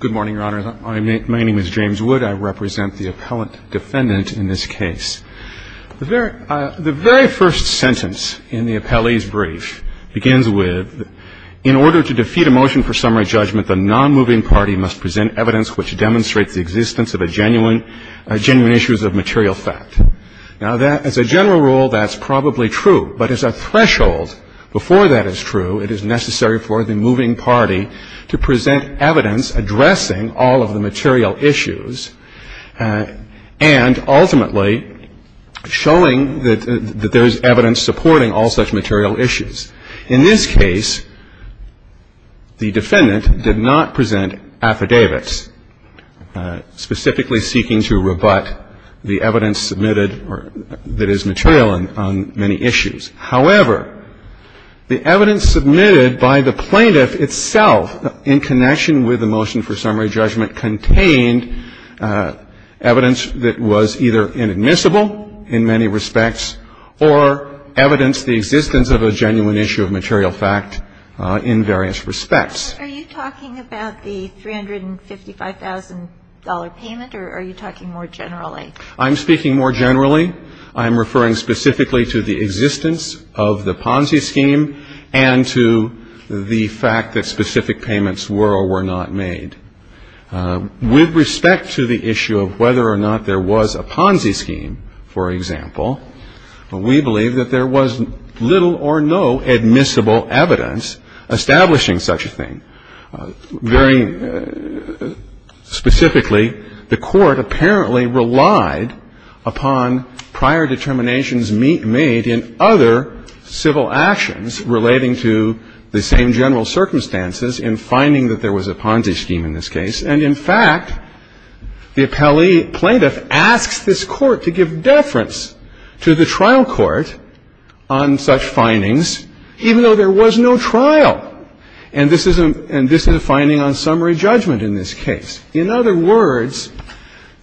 Good morning, Your Honor. My name is James Wood. I represent the appellant defendant in this case. The very first sentence in the appellee's brief begins with, In order to defeat a motion for summary judgment, the nonmoving party must present evidence which demonstrates the existence of genuine issues of material fact. Now, as a general rule, that's probably true. But as a threshold before that is true, it is necessary for the moving party to present evidence addressing all of the material issues and ultimately showing that there is evidence supporting all such material issues. In this case, the defendant did not present affidavits specifically seeking to rebut the evidence submitted that is material on many issues. However, the evidence submitted by the plaintiff itself in connection with the motion for summary judgment contained evidence that was either inadmissible in many respects or evidenced the existence of a genuine issue of material fact in various respects. Are you talking about the $355,000 payment or are you talking more generally? I'm speaking more generally. I'm referring specifically to the existence of the Ponzi scheme and to the fact that specific payments were or were not made. With respect to the issue of whether or not there was a Ponzi scheme, for example, we believe that there was little or no admissible evidence establishing such a thing. Very specifically, the Court apparently relied upon prior determinations made in other civil actions relating to the same general circumstances in finding that there was a Ponzi scheme in this case. And, in fact, the appellee plaintiff asks this Court to give deference to the trial court on such findings even though there was no trial. And this is a finding on summary judgment in this case. In other words,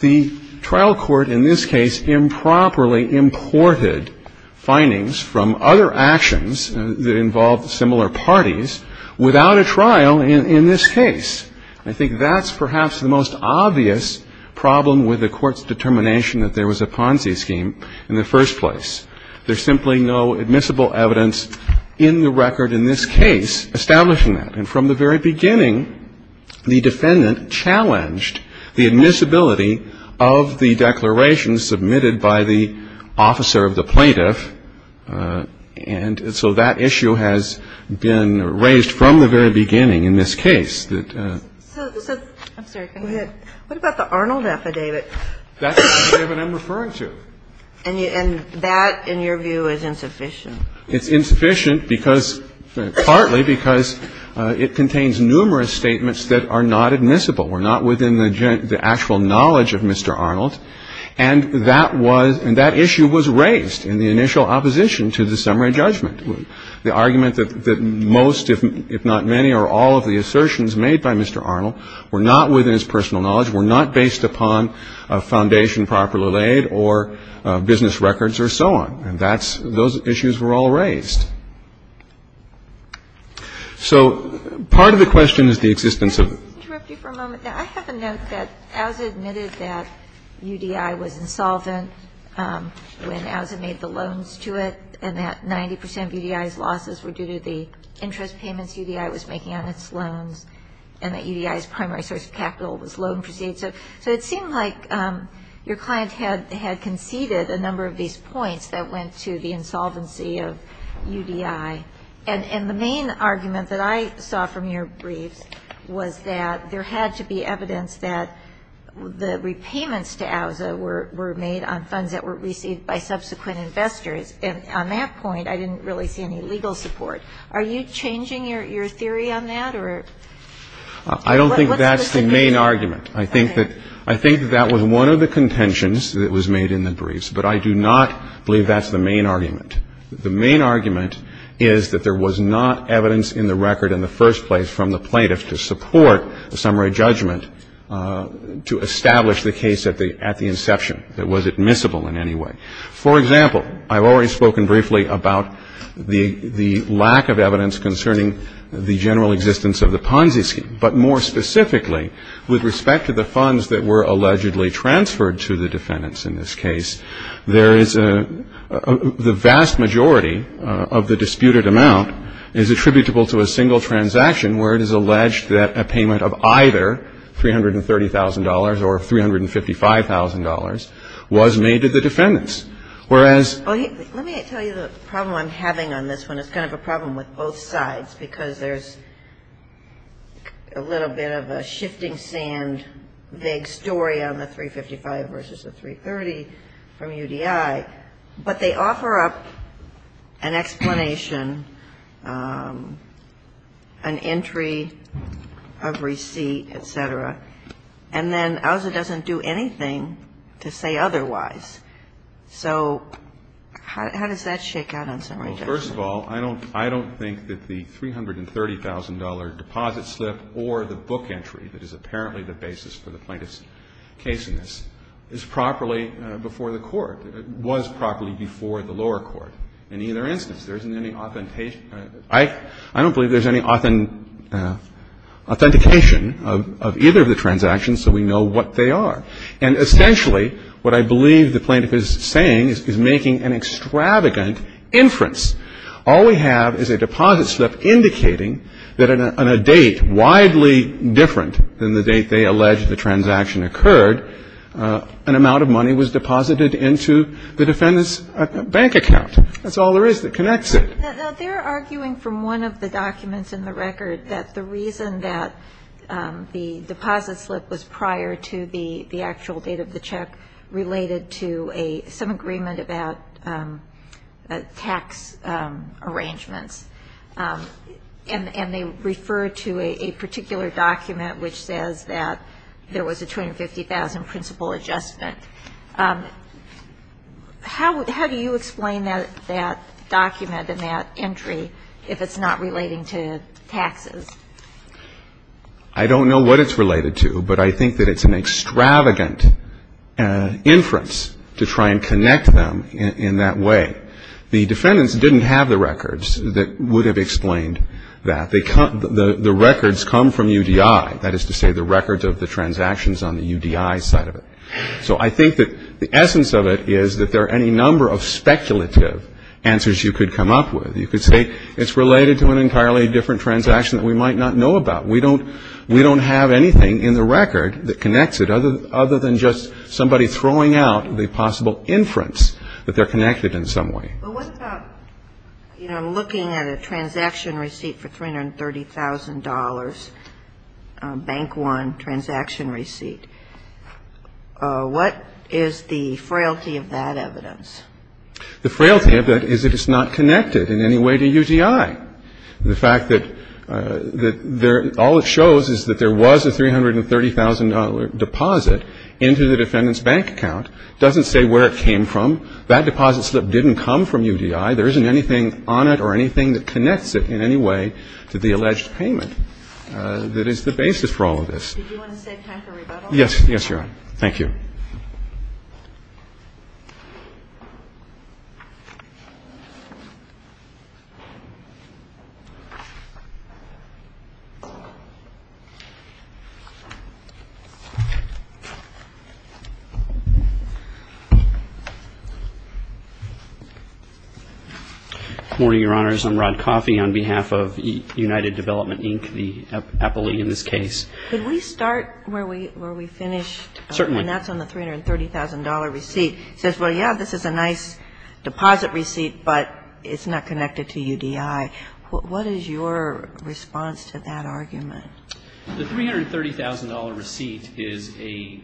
the trial court in this case improperly imported findings from other actions that involved similar parties without a trial in this case. I think that's perhaps the most obvious problem with the Court's determination that there was a Ponzi scheme in the first place. There's simply no admissible evidence in the record in this case establishing that. And from the very beginning, the defendant challenged the admissibility of the declaration submitted by the officer of the plaintiff. And so that issue has been raised from the very beginning in this case. So, I'm sorry, go ahead. What about the Arnold affidavit? That's the affidavit I'm referring to. And that, in your view, is insufficient? It's insufficient because, partly because it contains numerous statements that are not admissible, were not within the actual knowledge of Mr. Arnold. And that was, and that issue was raised in the initial opposition to the summary judgment. The argument that most, if not many, or all of the assertions made by Mr. Arnold were not within his personal knowledge, were not based upon a foundation properly laid or business records or so on. And that's, those issues were all raised. So part of the question is the existence of the. Can I just interrupt you for a moment? I have a note that as admitted that UDI was insolvent when OUSA made the loans to it, and that 90 percent of UDI's losses were due to the interest payments UDI was making on its loans, and that UDI's primary source of capital was loan proceeds. So it seemed like your client had conceded a number of these points that went to the insolvency of UDI. And the main argument that I saw from your briefs was that there had to be evidence that the repayments to OUSA were made on funds that were received by subsequent investors. And on that point, I didn't really see any legal support. Are you changing your theory on that, or? I don't think that's the main argument. I think that that was one of the contentions that was made in the briefs, but I do not believe that's the main argument. The main argument is that there was not evidence in the record in the first place from the plaintiffs to support a summary judgment to establish the case at the inception that was admissible in any way. For example, I've already spoken briefly about the lack of evidence concerning the general existence of the Ponzi scheme. But more specifically, with respect to the funds that were allegedly transferred to the defendants in this case, there is a — the vast majority of the disputed amount is attributable to a single transaction where it is alleged that a payment of either $330,000 or $355,000 was made to the defendants. Whereas — Well, let me tell you the problem I'm having on this one. It's kind of a problem with both sides because there's a little bit of a shifting sand, vague story on the $355,000 versus the $330,000 from UDI. But they offer up an explanation, an entry of receipt, et cetera. And then OZA doesn't do anything to say otherwise. So how does that shake out on summary judgment? Well, first of all, I don't think that the $330,000 deposit slip or the book entry that is apparently the basis for the plaintiff's case in this is properly before the court, was properly before the lower court. In either instance, there isn't any authentication — I don't believe there's any authentication of either of the transactions, so we know what they are. And essentially, what I believe the plaintiff is saying is making an extravagant inference. All we have is a deposit slip indicating that on a date widely different than the date they allege the transaction occurred, an amount of money was deposited into the defendant's bank account. That's all there is that connects it. Now, they're arguing from one of the documents in the record that the reason that the arrangements — and they refer to a particular document which says that there was a $250,000 principal adjustment. How do you explain that document and that entry if it's not relating to taxes? I don't know what it's related to, but I think that it's an extravagant inference to try and connect them in that way. The defendants didn't have the records that would have explained that. The records come from UDI, that is to say the records of the transactions on the UDI side of it. So I think that the essence of it is that there are any number of speculative answers you could come up with. You could say it's related to an entirely different transaction that we might not know about. We don't have anything in the record that connects it other than just somebody throwing out the possible inference that they're connected in some way. But what about, you know, looking at a transaction receipt for $330,000, Bank One transaction receipt, what is the frailty of that evidence? The frailty of that is that it's not connected in any way to UDI. The fact that all it shows is that there was a $330,000 deposit into the defendant's bank account doesn't say where it came from. That deposit slip didn't come from UDI. There isn't anything on it or anything that connects it in any way to the alleged payment that is the basis for all of this. Did you want to save time for rebuttal? Yes. Yes, Your Honor. Thank you. Good morning, Your Honors. I'm Rod Coffey on behalf of United Development, Inc., the Apple League in this case. Could we start where we finished? Certainly. And that's on the $330,000 receipt. It says, well, yeah, this is a nice deposit receipt, but it's not connected to UDI. What is your response to that argument? The $330,000 receipt is a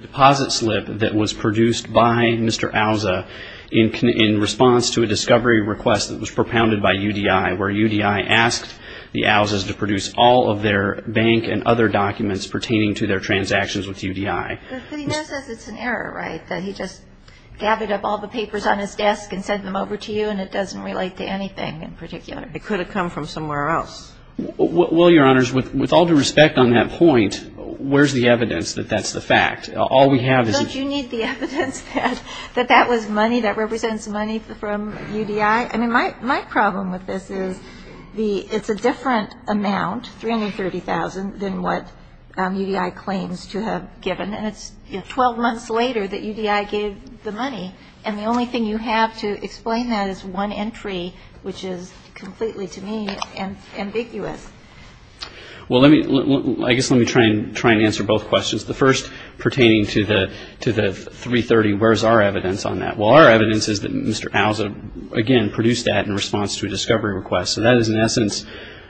deposit slip that was produced by Mr. Alza in response to a discovery request that was propounded by UDI where UDI asked the Alzas to produce all of their bank and other documents pertaining to their transactions with UDI. But he now says it's an error, right, that he just gathered up all the papers on his desk and sent them over to you and it doesn't relate to anything in particular? It could have come from somewhere else. Well, Your Honors, with all due respect on that point, where's the evidence that that's the fact? All we have is a ---- Don't you need the evidence that that was money, that represents money from UDI? I mean, my problem with this is it's a different amount, $330,000, than what UDI claims to have given. And it's 12 months later that UDI gave the money. And the only thing you have to explain that is one entry, which is completely, to me, ambiguous. Well, I guess let me try and answer both questions, the first pertaining to the $330,000, where's our evidence on that? Well, our evidence is that Mr. Alza, again, produced that in response to a discovery request. So that is, in essence,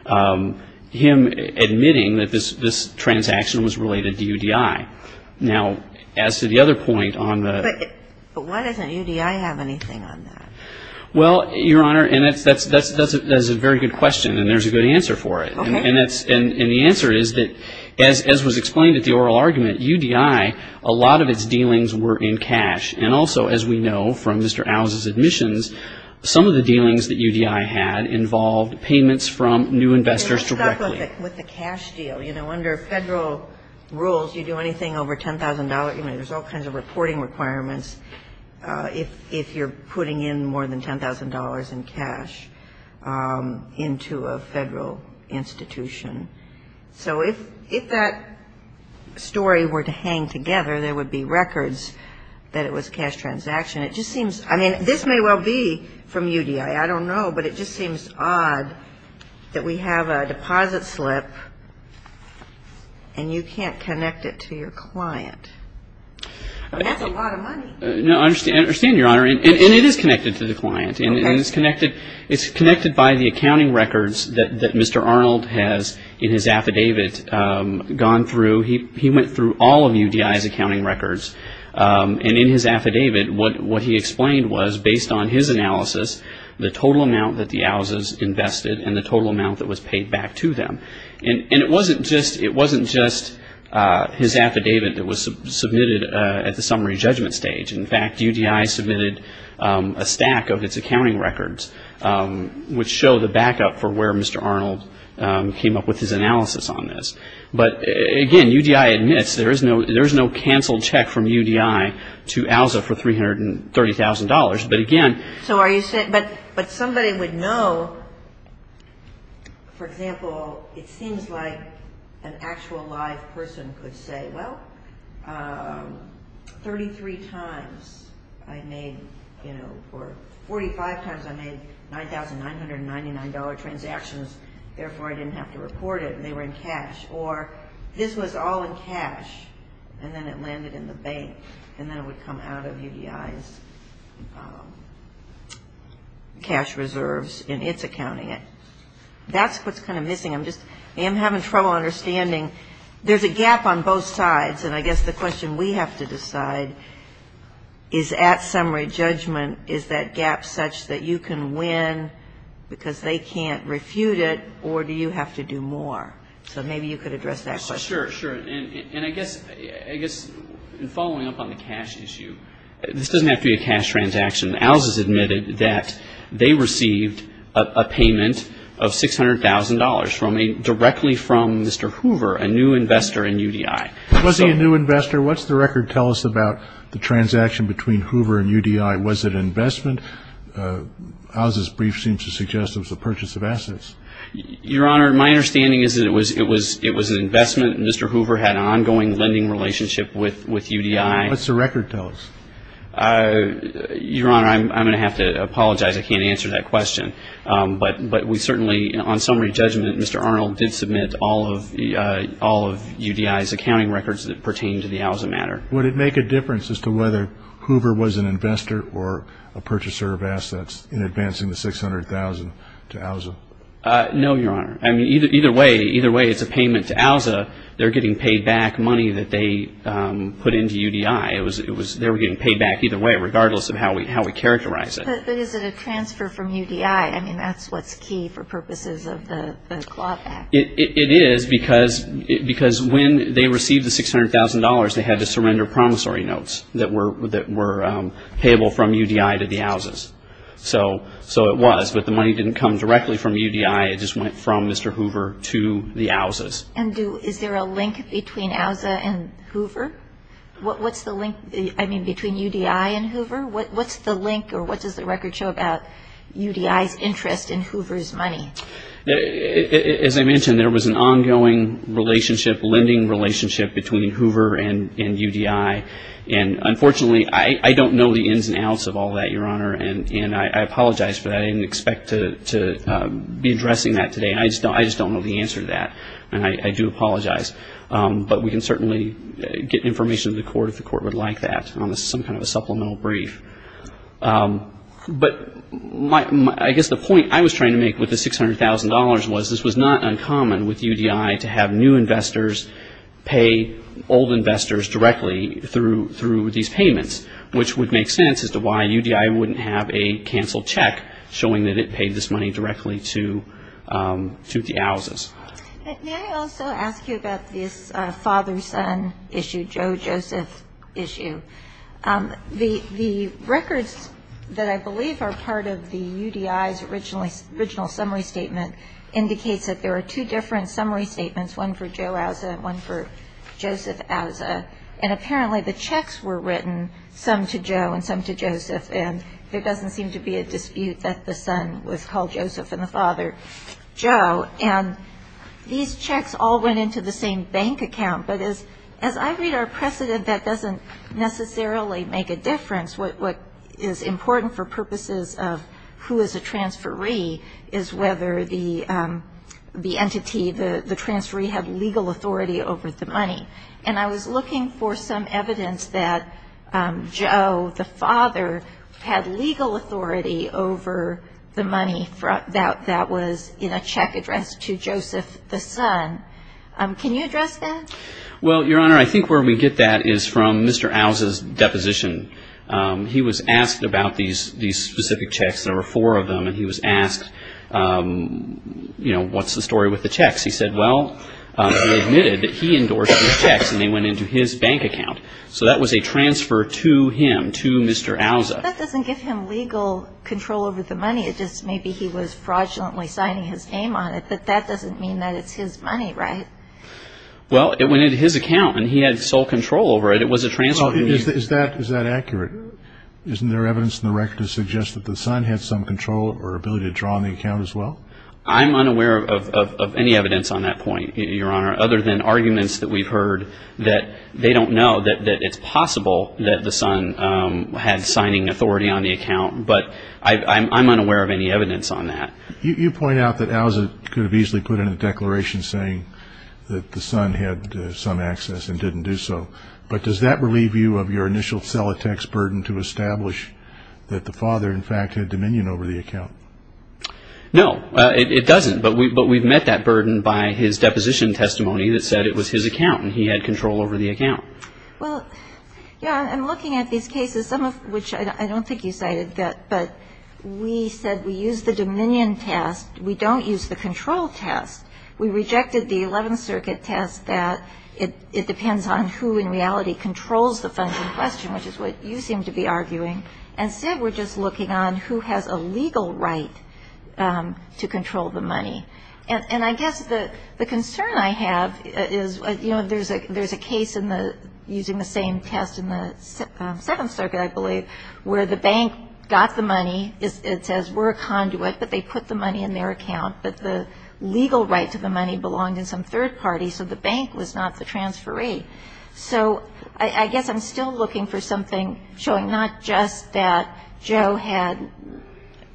him admitting that this transaction was related to UDI. Now, as to the other point on the ---- But why doesn't UDI have anything on that? Well, Your Honor, and that's a very good question, and there's a good answer for it. And the answer is that, as was explained at the oral argument, UDI, a lot of its dealings were in cash. And also, as we know from Mr. Alza's admissions, some of the dealings that UDI had involved payments from new investors directly. But what about with the cash deal? You know, under Federal rules, you do anything over $10,000. I mean, there's all kinds of reporting requirements if you're putting in more than $10,000 in cash into a Federal institution. So if that story were to hang together, there would be records that it was a cash transaction. It just seems ---- I mean, this may well be from UDI. I don't know, but it just seems odd that we have a deposit slip, and you can't connect it to your client. That's a lot of money. No, I understand, Your Honor. And it is connected to the client. Okay. And it's connected by the accounting records that Mr. Arnold has in his affidavit gone through. He went through all of UDI's accounting records. And in his affidavit, what he explained was, based on his analysis, the total amount that the Alzas invested and the total amount that was paid back to them. And it wasn't just his affidavit that was submitted at the summary judgment stage. In fact, UDI submitted a stack of its accounting records, which show the backup for where Mr. Arnold came up with his analysis on this. But again, UDI admits there is no cancelled check from UDI to Alza for $330,000. But again ---- So are you saying ---- but somebody would know, for example, it seems like an actual live person could say, well, 33 times I made, you know, or 45 times I made $9,999 transactions, therefore I didn't have to report it, and they were in cash. Or this was all in cash, and then it landed in the bank, and then it would come out of UDI's cash reserves in its accounting. That's what's kind of missing. I'm having trouble understanding. There's a gap on both sides, and I guess the question we have to decide is at summary judgment, is that gap such that you can win because they can't refute it, or do you have to do more? So maybe you could address that question. Sure, sure. And I guess in following up on the cash issue, this doesn't have to be a cash transaction. Alza's admitted that they received a payment of $600,000 directly from Mr. Hoover, a new investor in UDI. Was he a new investor? What's the record tell us about the transaction between Hoover and UDI? Was it investment? Alza's brief seems to suggest it was a purchase of assets. Your Honor, my understanding is that it was an investment. Mr. Hoover had an ongoing lending relationship with UDI. What's the record tell us? Your Honor, I'm going to have to apologize. I can't answer that question. But we certainly, on summary judgment, Mr. Arnold did submit all of UDI's accounting records that pertain to the Alza matter. Would it make a difference as to whether Hoover was an investor or a purchaser of assets in advancing the $600,000 to Alza? No, Your Honor. I mean, either way, it's a payment to Alza. They're getting paid back money that they put into UDI. They were getting paid back either way, regardless of how we characterize it. But is it a transfer from UDI? I mean, that's what's key for purposes of the Clawback. It is because when they received the $600,000, they had to surrender promissory notes that were payable from UDI to the Alzas. So it was, but the money didn't come directly from UDI. It just went from Mr. Hoover to the Alzas. And is there a link between Alza and Hoover? What's the link, I mean, between UDI and Hoover? What's the link or what does the record show about UDI's interest in Hoover's money? As I mentioned, there was an ongoing relationship, lending relationship between Hoover and UDI. And unfortunately, I don't know the ins and outs of all that, Your Honor. And I apologize for that. I didn't expect to be addressing that today. I just don't know the answer to that. And I do apologize. But we can certainly get information to the court if the court would like that on some kind of a supplemental brief. But I guess the point I was trying to make with the $600,000 was this was not uncommon with UDI to have new investors pay old investors directly through these payments, which would make sense as to why UDI wouldn't have a canceled check showing that it paid this money directly to the Alzas. May I also ask you about this father-son issue, Joe Joseph issue? The records that I believe are part of the UDI's original summary statement indicates that there are two different summary statements, one for Joe Alza and one for Joseph Alza. And apparently the checks were written, some to Joe and some to Joseph, and there doesn't seem to be a dispute that the son was called Joseph and the father Joe. And these checks all went into the same bank account. But as I read our precedent, that doesn't necessarily make a difference. What is important for purposes of who is a transferee is whether the entity, the transferee, had legal authority over the money. And I was looking for some evidence that Joe, the father, had legal authority over the money that was in a check addressed to Joseph, the son. Can you address that? Well, Your Honor, I think where we get that is from Mr. Alza's deposition. He was asked about these specific checks, there were four of them, and he was asked, you know, what's the story with the checks? He said, well, he admitted that he endorsed these checks and they went into his bank account. So that was a transfer to him, to Mr. Alza. That doesn't give him legal control over the money, it just maybe he was fraudulently signing his name on it. But that doesn't mean that it's his money, right? Well, it went into his account and he had sole control over it. It was a transfer to him. Is that accurate? Isn't there evidence in the record to suggest that the son had some control or ability to draw on the account as well? I'm unaware of any evidence on that point, Your Honor, other than arguments that we've heard that they don't know that it's possible that the son had signing authority on the account. But I'm unaware of any evidence on that. You point out that Alza could have easily put in a declaration saying that the son had some access and didn't do so. But does that relieve you of your initial cellotex burden to establish that the father, in fact, had dominion over the account? No, it doesn't. But we've met that burden by his deposition testimony that said it was his account and he had control over the account. Well, yeah, I'm looking at these cases, some of which I don't think you cited, but we said we used the dominion test. We don't use the control test. We rejected the Eleventh Circuit test that it depends on who in reality controls the funds in question, which is what you seem to be arguing. And said we're just looking on who has a legal right to control the money. And I guess the concern I have is, you know, there's a case in the using the same test in the Seventh Circuit, I believe, where the bank got the money. It says we're a conduit, but they put the money in their account. But the legal right to the money belonged in some third party, so the bank was not the transferee. So I guess I'm still looking for something showing not just that Joe had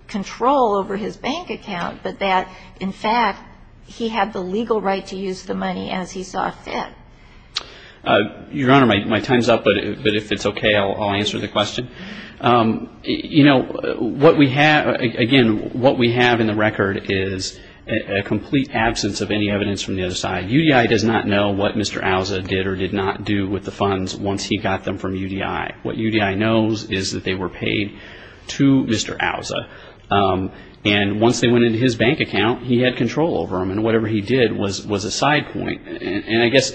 control over his bank account, but that, in fact, he had the legal right to use the money as he saw fit. Your Honor, my time is up, but if it's okay, I'll answer the question. You know, what we have, again, what we have in the record is a complete absence of any evidence from the other side. UDI does not know what Mr. Alza did or did not do with the funds once he got them from UDI. What UDI knows is that they were paid to Mr. Alza. And once they went into his bank account, he had control over them. And whatever he did was a side point. And I guess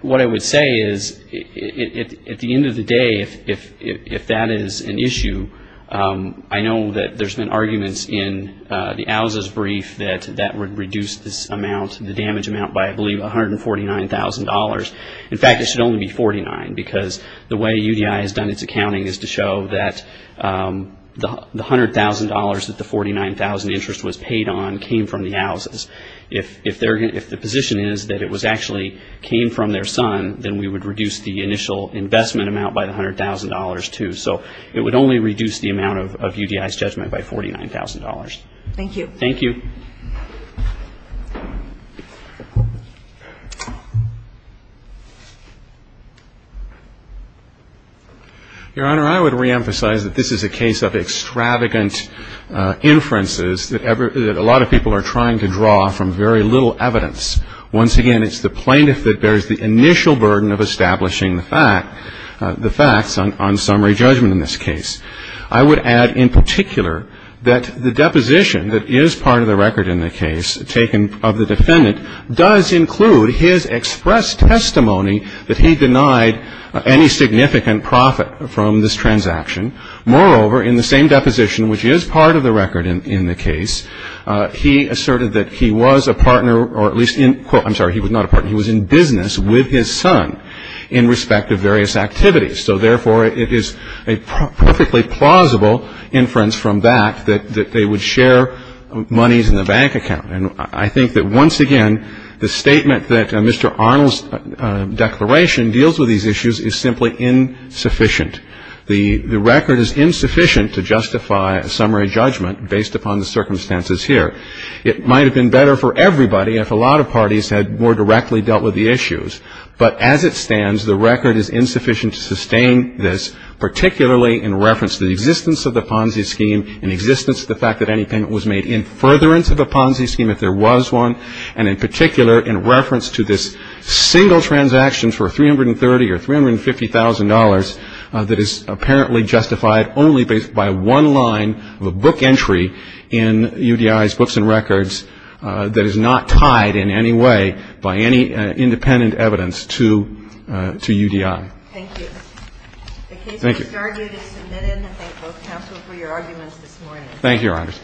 what I would say is, at the end of the day, if that is an issue, I know that there's been arguments in the Alza's brief that that would reduce this amount, the damage amount, by, I believe, $149,000. In fact, it should only be $49,000 because the way UDI has done its accounting is to show that the $100,000 that the $49,000 interest was paid on came from the Alza's. If the position is that it actually came from their son, then we would reduce the initial investment amount by the $100,000, too. So it would only reduce the amount of UDI's judgment by $49,000. Thank you. Thank you. Your Honor, I would reemphasize that this is a case of extravagant inferences that a lot of people are trying to draw from very little evidence. Once again, it's the plaintiff that bears the initial burden of establishing the facts on summary judgment in this case. I would add in particular that the deposition that is part of the record in the case taken of the defendant does include his expressed testimony that he denied any significant profit from this transaction. Moreover, in the same deposition, which is part of the record in the case, he asserted that he was a partner or at least in, quote, I'm sorry, he was not a partner. He was in business with his son in respect of various activities. So therefore, it is a perfectly plausible inference from that that they would share monies in the bank account. And I think that once again, the statement that Mr. Arnold's declaration deals with these issues is simply insufficient. The record is insufficient to justify a summary judgment based upon the circumstances here. It might have been better for everybody if a lot of parties had more directly dealt with the issues. But as it stands, the record is insufficient to sustain this, particularly in reference to the existence of the Ponzi scheme, in existence of the fact that any payment was made in furtherance of a Ponzi scheme if there was one, and in particular in reference to this single transaction for $330,000 or $350,000 that is apparently justified only by one line of a book entry in UDI's books and records that is not tied in any way by any independent evidence to UDI. Thank you. Thank you. The case was started and submitted, and I thank both counsel for your arguments this morning. Thank you, Your Honors.